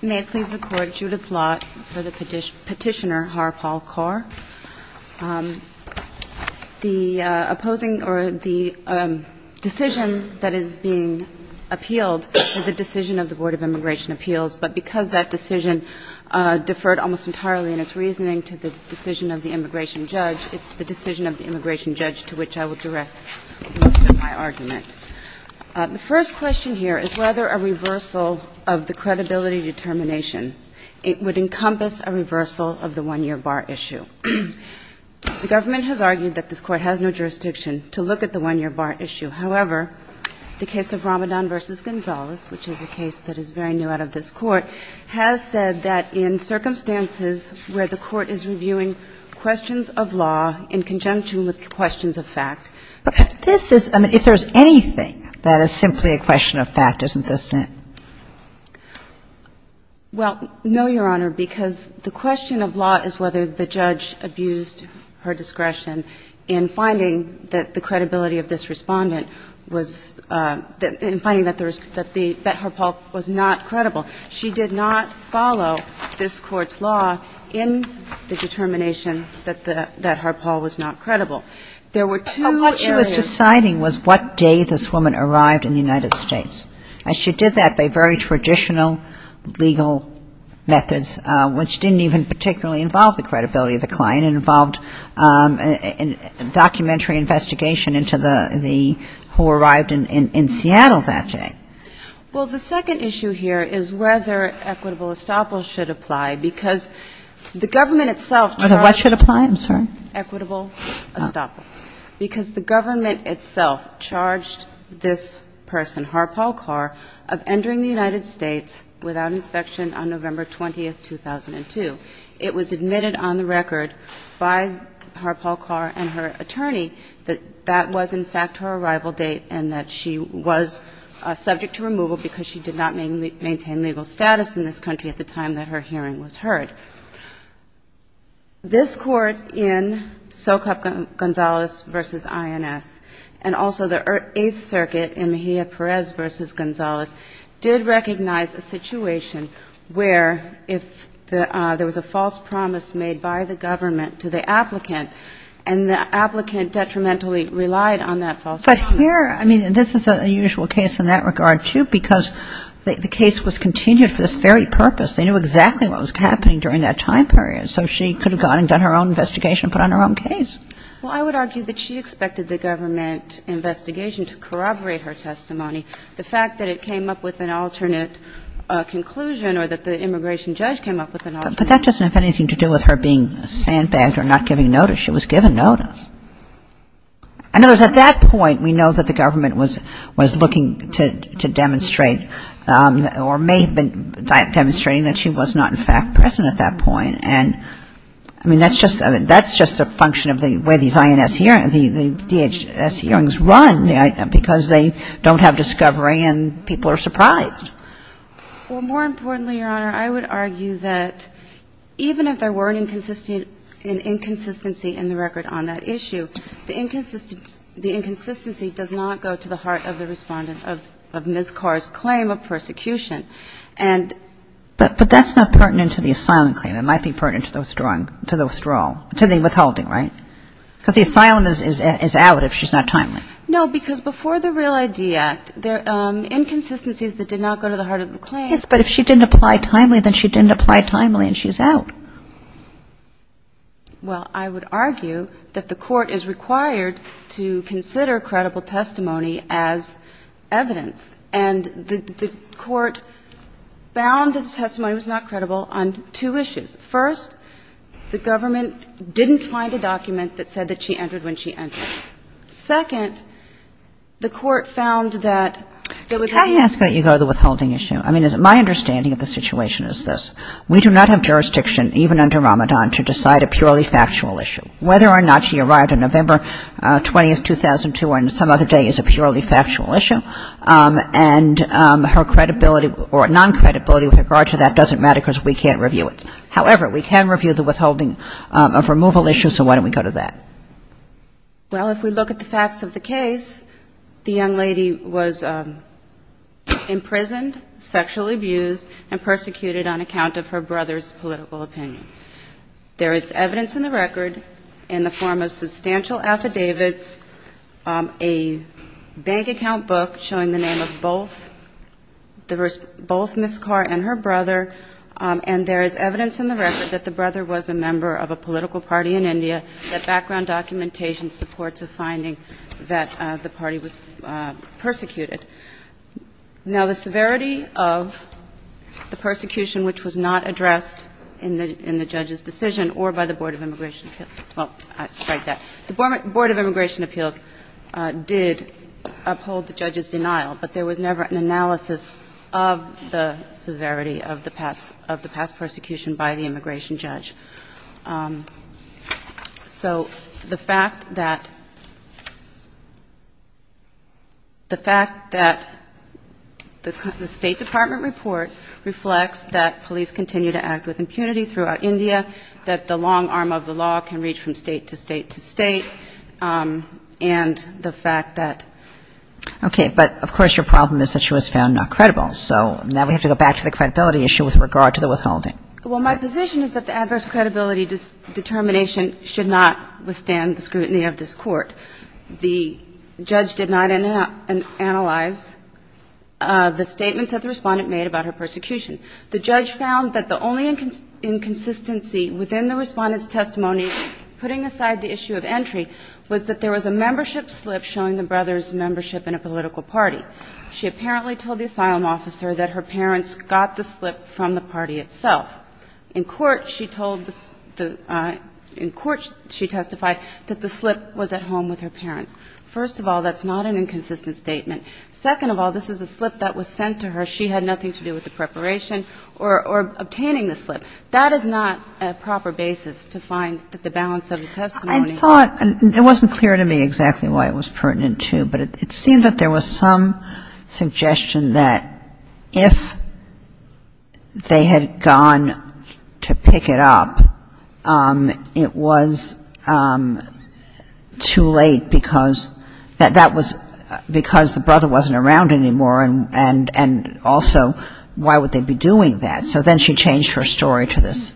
May it please the Court, Judith Lott for the petitioner Harpal Kaur. The opposing or the decision that is being appealed is a decision of the Board of Immigration Appeals, but because that decision deferred almost entirely in its reasoning to the decision of the immigration judge, it's the decision of the immigration judge to which I would direct most of my argument. The first question here is whether a reversal of the credibility determination, it would encompass a reversal of the one-year bar issue. The government has argued that this Court has no jurisdiction to look at the one-year bar issue. However, the case of Ramadan v. Gonzales, which is a case that is very new out of this Court, has said that in circumstances where the Court is reviewing questions of law in conjunction with questions of fact. But this is, I mean, if there's anything that is simply a question of fact, isn't this it? Well, no, Your Honor, because the question of law is whether the judge abused her discretion in finding that the credibility of this Respondent was, in finding that Harpal was not credible. She did not follow this Court's law in the determination that Harpal was not credible. There were two areas. But what she was deciding was what day this woman arrived in the United States. And she did that by very traditional legal methods, which didn't even particularly involve the credibility of the client. It involved a documentary investigation into the who arrived in Seattle that day. Well, the second issue here is whether equitable estoppel should apply, because the government itself tried to... Whether what should apply, I'm sorry? Equitable estoppel. Because the government itself charged this person, Harpal Kaur, of entering the United States without inspection on November 20, 2002. It was admitted on the record by Harpal Kaur and her attorney that that was, in fact, her arrival date and that she was subject to removal because she did not maintain legal status in this country at the time that her hearing was heard. This Court in Socap Gonzalez v. INS and also the Eighth Circuit in Mejia Perez v. Gonzalez did recognize a situation where if there was a false promise made by the government to the applicant and the applicant detrimentally relied on that false promise... But here, I mean, this is an unusual case in that regard, too, because the case was continued for this very purpose. They knew exactly what was happening during that time period. So she could have gone and done her own investigation and put on her own case. Well, I would argue that she expected the government investigation to corroborate her testimony. The fact that it came up with an alternate conclusion or that the immigration judge came up with an alternate... But that doesn't have anything to do with her being sandbagged or not giving notice. She was given notice. In other words, at that point, we know that the government was looking to demonstrate or may have been demonstrating that she was not, in fact, present at that point. And, I mean, that's just a function of the way these INS hearings, the DHS hearings run, because they don't have discovery and people are surprised. Well, more importantly, Your Honor, I would argue that even if there were an inconsistency in the record on that issue, the inconsistency does not go to the heart of the Respondent of Ms. Carr's claim of persecution. And... But that's not pertinent to the asylum claim. It might be pertinent to the withdrawal, to the withholding, right? Because the asylum is out if she's not timely. No, because before the REAL ID Act, inconsistencies that did not go to the heart of the claim... Yes, but if she didn't apply timely, then she didn't apply timely and she's out. Well, I would argue that the Court is required to consider credible testimony as evidence, and the Court found that the testimony was not credible on two issues. First, the government didn't find a document that said that she entered when she entered. Second, the Court found that there was... Can I ask that you go to the withholding issue? I mean, my understanding of the situation is this. We do not have jurisdiction, even under Ramadan, to decide a purely factual issue. Whether or not she arrived on November 20, 2002 or on some other day is a purely factual issue, and her credibility or non-credibility with regard to that doesn't matter because we can't review it. However, we can review the withholding of removal issues, so why don't we go to that? Well, if we look at the facts of the case, the young lady was imprisoned, sexually abused, and persecuted on account of her brother's political opinion. There is evidence in the record in the form of substantial affidavits, a bank account book showing the name of both Ms. Carr and her brother, and there is evidence in the record that the brother was a member of a political party in India, that background documentation supports a finding that the party was persecuted. Now, the severity of the persecution which was not addressed in the judge's decision or by the Board of Immigration Appeals, well, I strike that. The Board of Immigration Appeals did uphold the judge's denial, but there was never an analysis of the severity of the past persecution by the immigration judge. So the fact that the fact that the State Department report reflects that police continue to act with impunity throughout India, that the long arm of the law can reach from State to State to State, and the fact that ---- Okay. But of course your problem is that she was found not credible, so now we have to go back to the credibility issue with regard to the withholding. Well, my position is that the adverse credibility determination should not withstand the scrutiny of this Court. The judge did not analyze the statements that the Respondent made about her persecution. The judge found that the only inconsistency within the Respondent's testimony putting aside the issue of entry was that there was a membership slip showing the brother's membership in a political party. She apparently told the asylum officer that her parents got the slip from the party itself. In court, she told the ---- in court, she testified that the slip was at home with her parents. First of all, that's not an inconsistent statement. Second of all, this is a slip that was sent to her. She had nothing to do with the preparation or obtaining the slip. That is not a proper basis to find that the balance of the testimony ---- I thought, and it wasn't clear to me exactly why it was pertinent to, but it seemed that there was some suggestion that if they had gone to pick it up, it was too late because that was because the brother wasn't around anymore and also why would they be doing that. So then she changed her story to this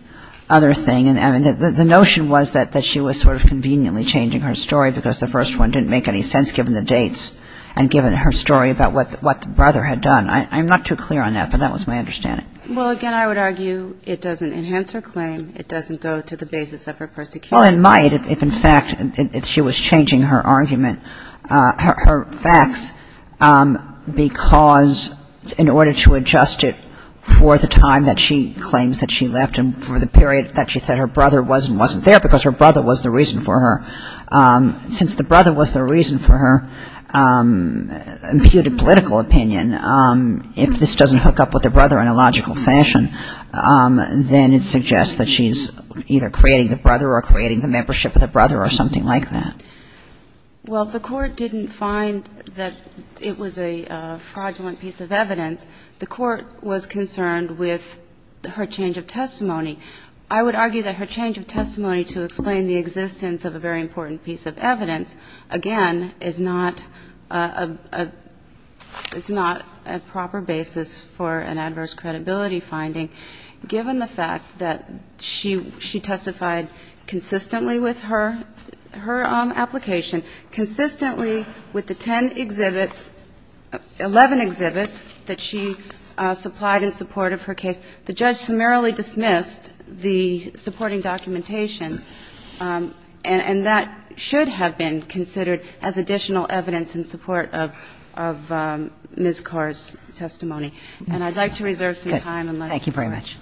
other thing. And the notion was that she was sort of conveniently changing her story because the first one didn't make any sense given the dates and given her story about what the brother had done. I'm not too clear on that, but that was my understanding. Well, again, I would argue it doesn't enhance her claim. It doesn't go to the basis of her persecution. Well, it might if in fact she was changing her argument, her facts, because in order to adjust it for the time that she claims that she left and for the period that she said her brother was and wasn't there because her brother was the reason for her. Since the brother was the reason for her imputed political opinion, if this doesn't hook up with the brother in a logical fashion, then it suggests that she's either creating the brother or creating the membership of the brother or something like that. Well, the Court didn't find that it was a fraudulent piece of evidence. The Court was concerned with her change of testimony. I would argue that her change of testimony to explain the existence of a very important piece of evidence, again, is not a proper basis for an adverse credibility finding given the fact that she testified consistently with her application, consistently with the 10 exhibits, 11 exhibits that she supplied in support of her case. The judge summarily dismissed the supporting documentation, and that should have been considered as additional evidence in support of Ms. Carr's testimony. And I'd like to reserve some time. Thank you very much.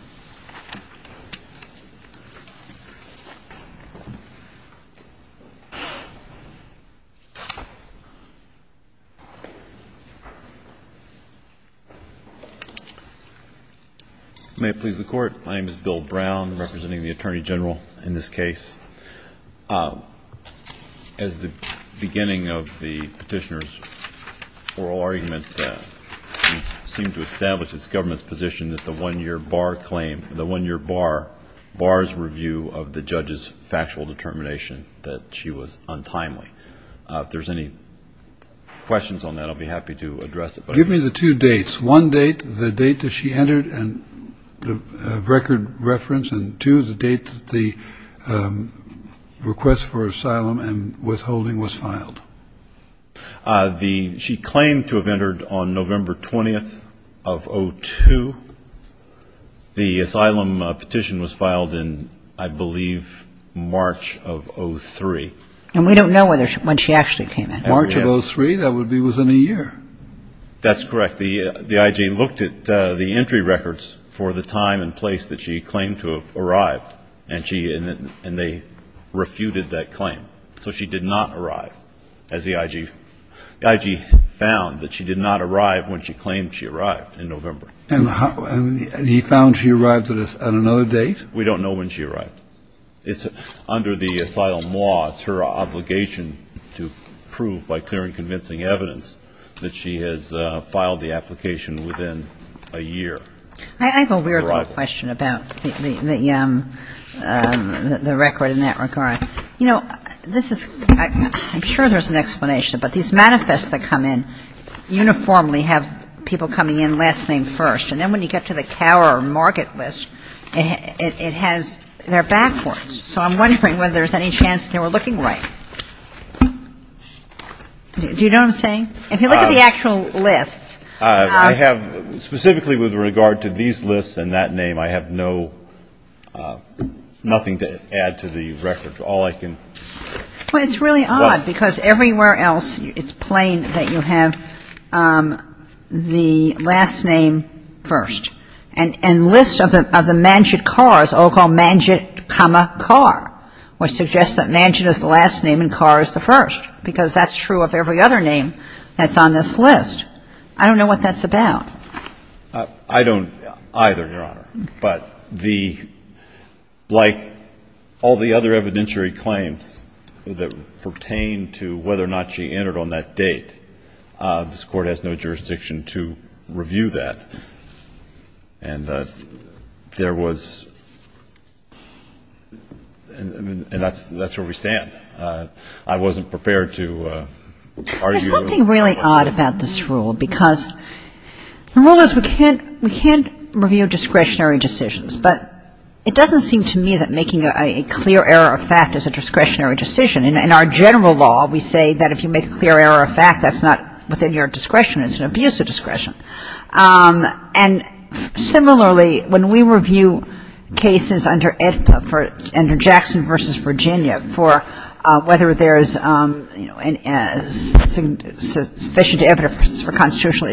May it please the Court. My name is Bill Brown, representing the Attorney General in this case. As the beginning of the Petitioner's oral argument, we seem to establish it's the government's position that the one-year bar claim, the one-year bar's review of the judge's factual determination that she was untimely. If there's any questions on that, I'll be happy to address it. Give me the two dates. One date, the date that she entered a record reference, and two, the date that the request for asylum and withholding was filed. She claimed to have entered on November 20th of 2002. The asylum petition was filed in, I believe, March of 2003. And we don't know when she actually came in. March of 2003? That would be within a year. That's correct. The IG looked at the entry records for the time and place that she claimed to have arrived, and they refuted that claim. So she did not arrive, as the IG found, that she did not arrive when she claimed she arrived in November. And he found she arrived at another date? We don't know when she arrived. It's under the asylum law, it's her obligation to prove, by clear and convincing evidence, that she has filed the application within a year. I have a weird little question about the record in that regard. You know, this is ‑‑ I'm sure there's an explanation, but these manifests that come in uniformly have people coming in last name first. And then when you get to the cower or market list, it has ‑‑ they're backwards. So I'm wondering whether there's any chance they were looking right. Do you know what I'm saying? If you look at the actual lists. I have, specifically with regard to these lists and that name, I have no ‑‑ nothing to add to the record. All I can ‑‑ But it's really odd, because everywhere else it's plain that you have the last name first. And lists of the Manchit cars, all called Manchit, comma, car, would suggest that Manchit is the last name and car is the first, because that's true of every other name that's on this list. I don't know what that's about. I don't either, Your Honor. But the ‑‑ like all the other evidentiary claims that pertain to whether or not she entered on that date, this Court has no jurisdiction to review that. And there was ‑‑ and that's where we stand. I wasn't prepared to argue. But there's something really odd about this rule, because the rule is we can't review discretionary decisions. But it doesn't seem to me that making a clear error of fact is a discretionary decision. In our general law, we say that if you make a clear error of fact, that's not within your discretion. It's an abuse of discretion. And similarly, when we review cases under EDPA, under Jackson v. Virginia, for whether there's sufficient evidence for constitutional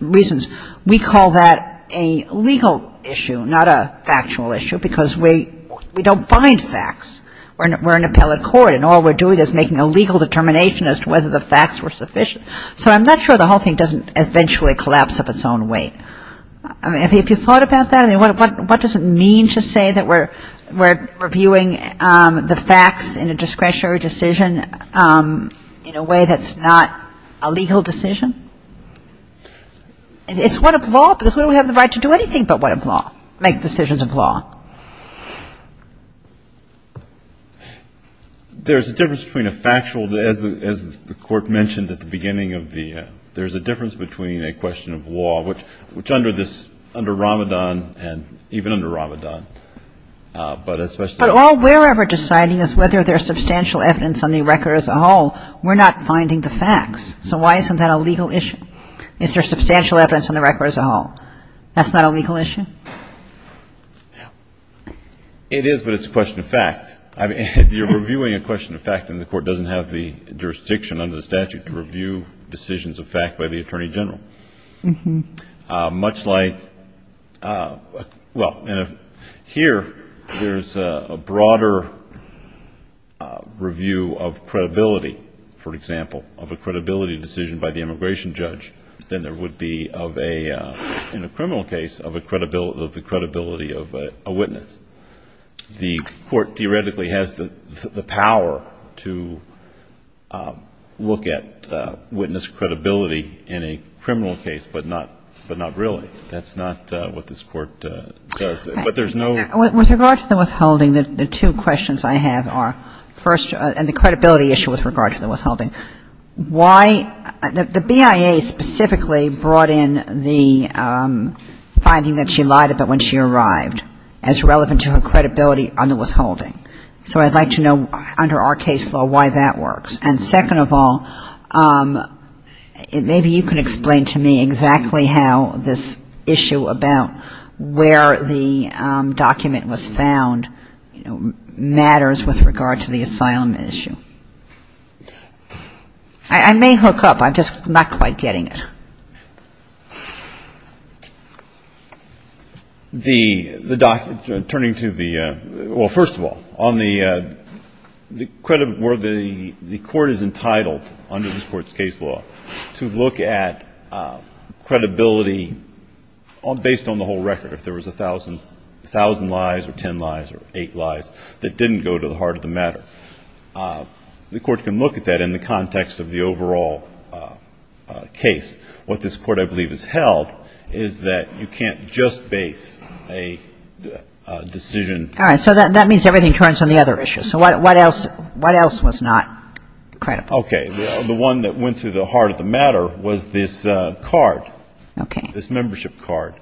reasons, we call that a legal issue, not a factual issue, because we don't find facts. We're an appellate court, and all we're doing is making a legal determination as to whether the facts were sufficient. So I'm not sure the whole thing doesn't eventually collapse of its own weight. I mean, have you thought about that? I mean, what does it mean to say that we're reviewing the facts in a discretionary decision in a way that's not a legal decision? It's what of law, because we don't have the right to do anything but what of law, make decisions of law. There's a difference between a factual, as the court mentioned at the beginning of the ‑‑ there's a difference between a question of law, which under this, under Ramadan, and even under Ramadan, but especially ‑‑ But all we're ever deciding is whether there's substantial evidence on the record as a whole. We're not finding the facts. So why isn't that a legal issue? Is there substantial evidence on the record as a whole? That's not a legal issue? It is, but it's a question of fact. You're reviewing a question of fact, and the Court doesn't have the jurisdiction under the statute to review decisions of fact by the Attorney General. Much like ‑‑ well, here there's a broader review of credibility, for example, of a credibility decision by the immigration judge than there would be of a, in a criminal case, of the credibility of a witness. The Court theoretically has the power to look at witness credibility in a criminal case, but not really. That's not what this Court does. But there's no ‑‑ With regard to the withholding, the two questions I have are, first, and the credibility issue with regard to the withholding. Why ‑‑ the BIA specifically brought in the finding that she lied about when she arrived as relevant to her credibility on the withholding. So I'd like to know, under our case law, why that works. And second of all, maybe you can explain to me exactly how this issue about where the document was found, you know, matters with regard to the asylum issue. I may hook up. I'm just not quite getting it. The document, turning to the ‑‑ well, first of all, on the ‑‑ where the Court is entitled under this Court's case law to look at credibility based on the whole record, if there was a thousand lies or ten lies or eight lies that didn't go to the heart of the matter. The Court can look at that in the context of the overall case. What this Court, I believe, has held is that you can't just base a decision. All right. So that means everything turns on the other issue. So what else was not credible? Okay. The one that went to the heart of the matter was this card. Okay. This membership card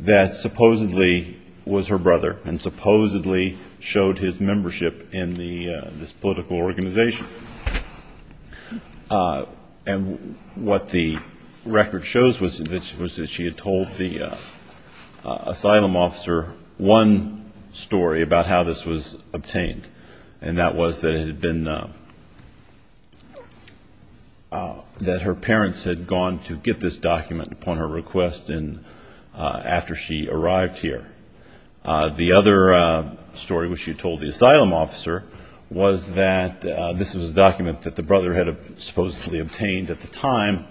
that supposedly was her brother and supposedly showed his membership in this political organization. And what the record shows was that she had told the asylum officer one story about how this was obtained, and that was that it had been ‑‑ that her parents had gone to get this document upon her request after she arrived here. The other story which she told the asylum officer was that this was a document that the brother had supposedly obtained at the time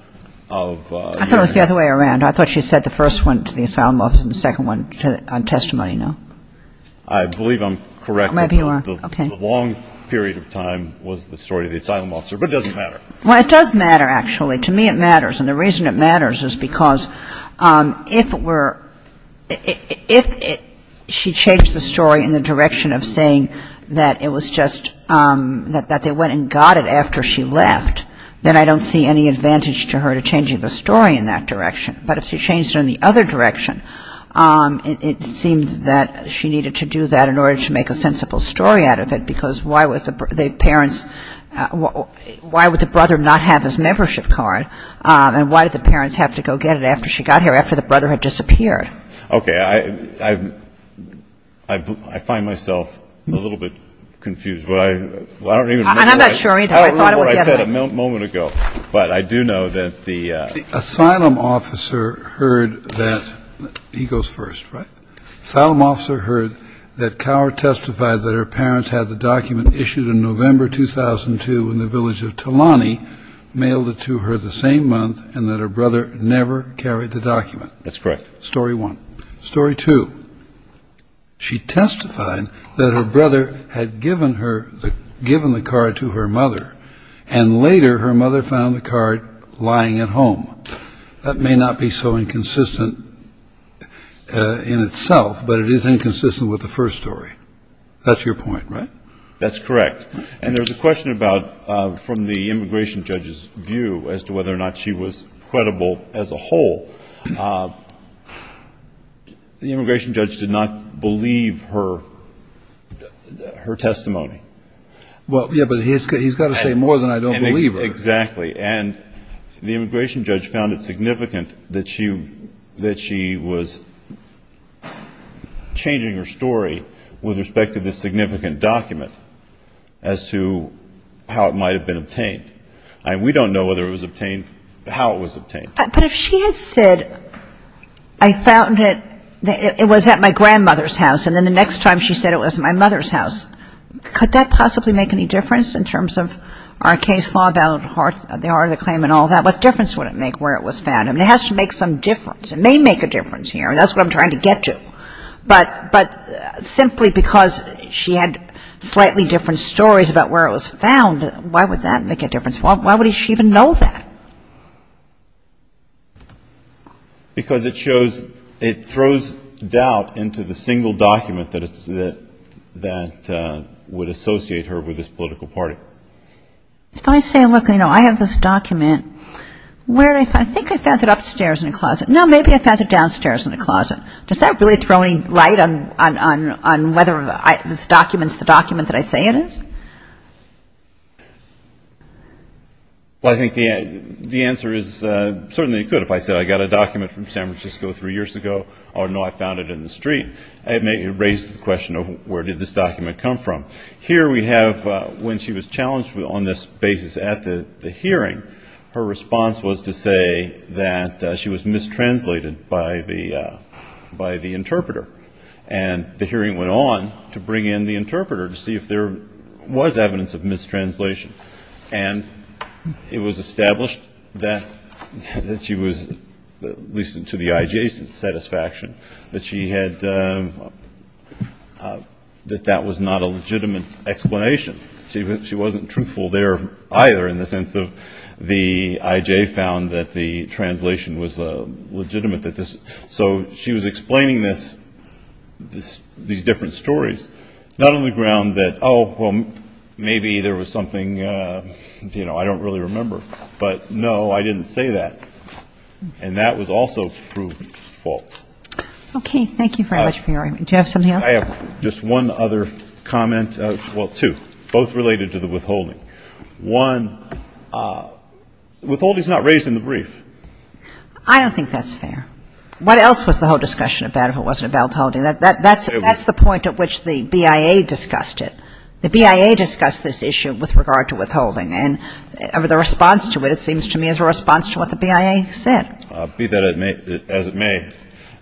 of ‑‑ I thought it was the other way around. I thought she said the first one to the asylum officer and the second one on testimony, no? I believe I'm correct. Maybe you are. Okay. The long period of time was the story of the asylum officer, but it doesn't matter. Well, it does matter, actually. To me it matters, and the reason it matters is because if we're ‑‑ if she changed the story in the direction of saying that it was just that they went and got it after she left, then I don't see any advantage to her to changing the story in that direction. But if she changed it in the other direction, it seems that she needed to do that in order to make a sensible story out of it, because why would the parents ‑‑ why would the brother not have his membership card, and why did the parents have to go get it after she got here, after the brother had disappeared? Okay. I find myself a little bit confused. I don't even remember what I said a moment ago. I'm not sure either. I thought it was the other one. But I do know that the ‑‑ The asylum officer heard that ‑‑ he goes first, right? The asylum officer heard that Cower testified that her parents had the document issued in November 2002 in the village of Talani, mailed it to her the same month, and that her brother never carried the document. That's correct. Story one. Story two. She testified that her brother had given her ‑‑ given the card to her mother, and later her mother found the card lying at home. That may not be so inconsistent in itself, but it is inconsistent with the first story. That's your point, right? That's correct. And there's a question about, from the immigration judge's view, as to whether or not she was credible as a whole. The immigration judge did not believe her testimony. Well, yeah, but he's got to say more than I don't believe her. Exactly. And the immigration judge found it significant that she was changing her story with respect to this significant document as to how it might have been obtained. I mean, we don't know whether it was obtained, how it was obtained. But if she had said, I found it, it was at my grandmother's house, and then the next time she said it was at my mother's house, could that possibly make any difference in terms of our case, law about the heart of the claim and all that? What difference would it make where it was found? I mean, it has to make some difference. It may make a difference here, and that's what I'm trying to get to. But simply because she had slightly different stories about where it was found, why would that make a difference? Why would she even know that? Because it shows, it throws doubt into the single document that would associate her with this political party. If I say, look, you know, I have this document. Where did I find it? I think I found it upstairs in a closet. No, maybe I found it downstairs in a closet. Does that really throw any light on whether this document is the document that I say it is? Well, I think the answer is certainly it could. If I said I got a document from San Francisco three years ago, oh, no, I found it in the street, it may raise the question of where did this document come from. Here we have when she was challenged on this basis at the hearing, her response was to say that she was mistranslated by the interpreter. And the hearing went on to bring in the interpreter to see if there was evidence of mistranslation. And it was established that she was, at least to the adjacent satisfaction, that she had, that that was not a legitimate explanation. She wasn't truthful there either in the sense of the IJ found that the translation was legitimate. So she was explaining this, these different stories, not on the ground that, oh, well, maybe there was something, you know, I don't really remember. But, no, I didn't say that. And that was also proved false. Okay. Thank you very much for your argument. Do you have something else? I have just one other comment. Well, two, both related to the withholding. One, withholding is not raised in the brief. I don't think that's fair. What else was the whole discussion about if it wasn't about withholding? That's the point at which the BIA discussed it. The BIA discussed this issue with regard to withholding. And the response to it, it seems to me, is a response to what the BIA said. Be that as it may,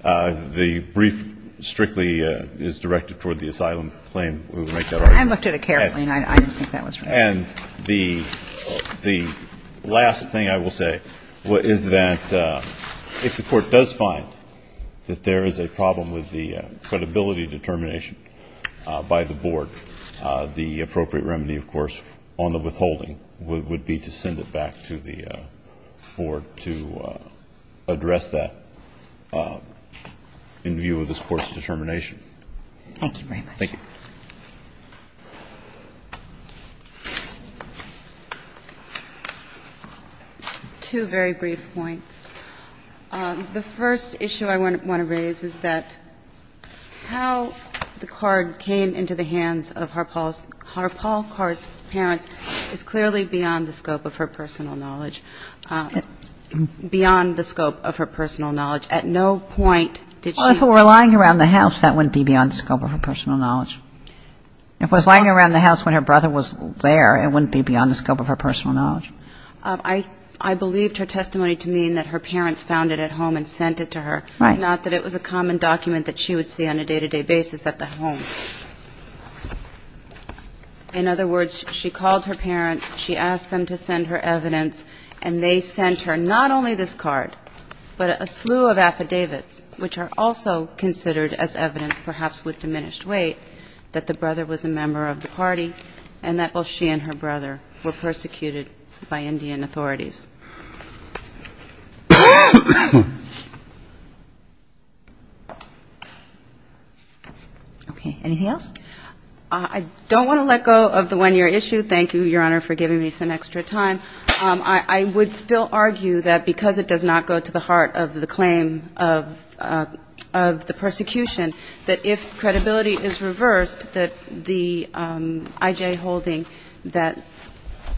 the brief strictly is directed toward the asylum claim. We will make that argument. I looked at it carefully, and I don't think that was right. And the last thing I will say is that if the Court does find that there is a problem with the credibility determination by the board, the appropriate remedy, of course, on the withholding would be to send it back to the board to address that in view of this Court's determination. Thank you very much. Thank you. Two very brief points. The first issue I want to raise is that how the card came into the hands of Harpal Carr's parents is clearly beyond the scope of her personal knowledge. Beyond the scope of her personal knowledge. At no point did she ---- Well, if it were lying around the house, that wouldn't be beyond the scope of her personal knowledge. If it was lying around the house when her brother was there, it wouldn't be beyond the scope of her personal knowledge. I believed her testimony to mean that her parents found it at home and sent it to her, not that it was a common document that she would see on a day-to-day basis at the home. In other words, she called her parents, she asked them to send her evidence, and they sent her not only this card, but a slew of affidavits, which are also considered as evidence, perhaps with diminished weight, that the brother was a member of the party and that both she and her brother were persecuted by Indian authorities. Okay. Anything else? I don't want to let go of the one-year issue. Thank you, Your Honor, for giving me some extra time. I would still argue that because it does not go to the heart of the claim of the persecution, that if credibility is reversed, that the I.J. Holding, that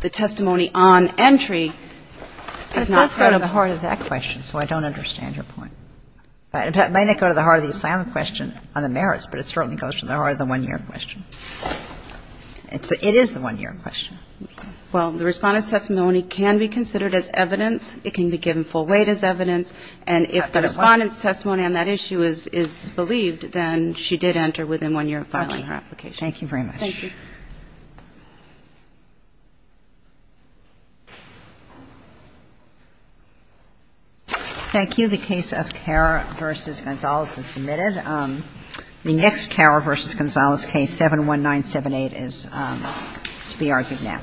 the testimony on entry is not credible. But it does go to the heart of that question, so I don't understand your point. It may not go to the heart of the asylum question on the merits, but it certainly goes to the heart of the one-year question. It is the one-year question. Well, the Respondent's testimony can be considered as evidence. It can be given full weight as evidence. And if the Respondent's testimony on that issue is believed, then she did enter within one year of filing her application. Okay. Thank you very much. Thank you. Thank you. The case of Karr v. Gonzalez is submitted. The next Karr v. Gonzalez case, 71978, is to be argued now.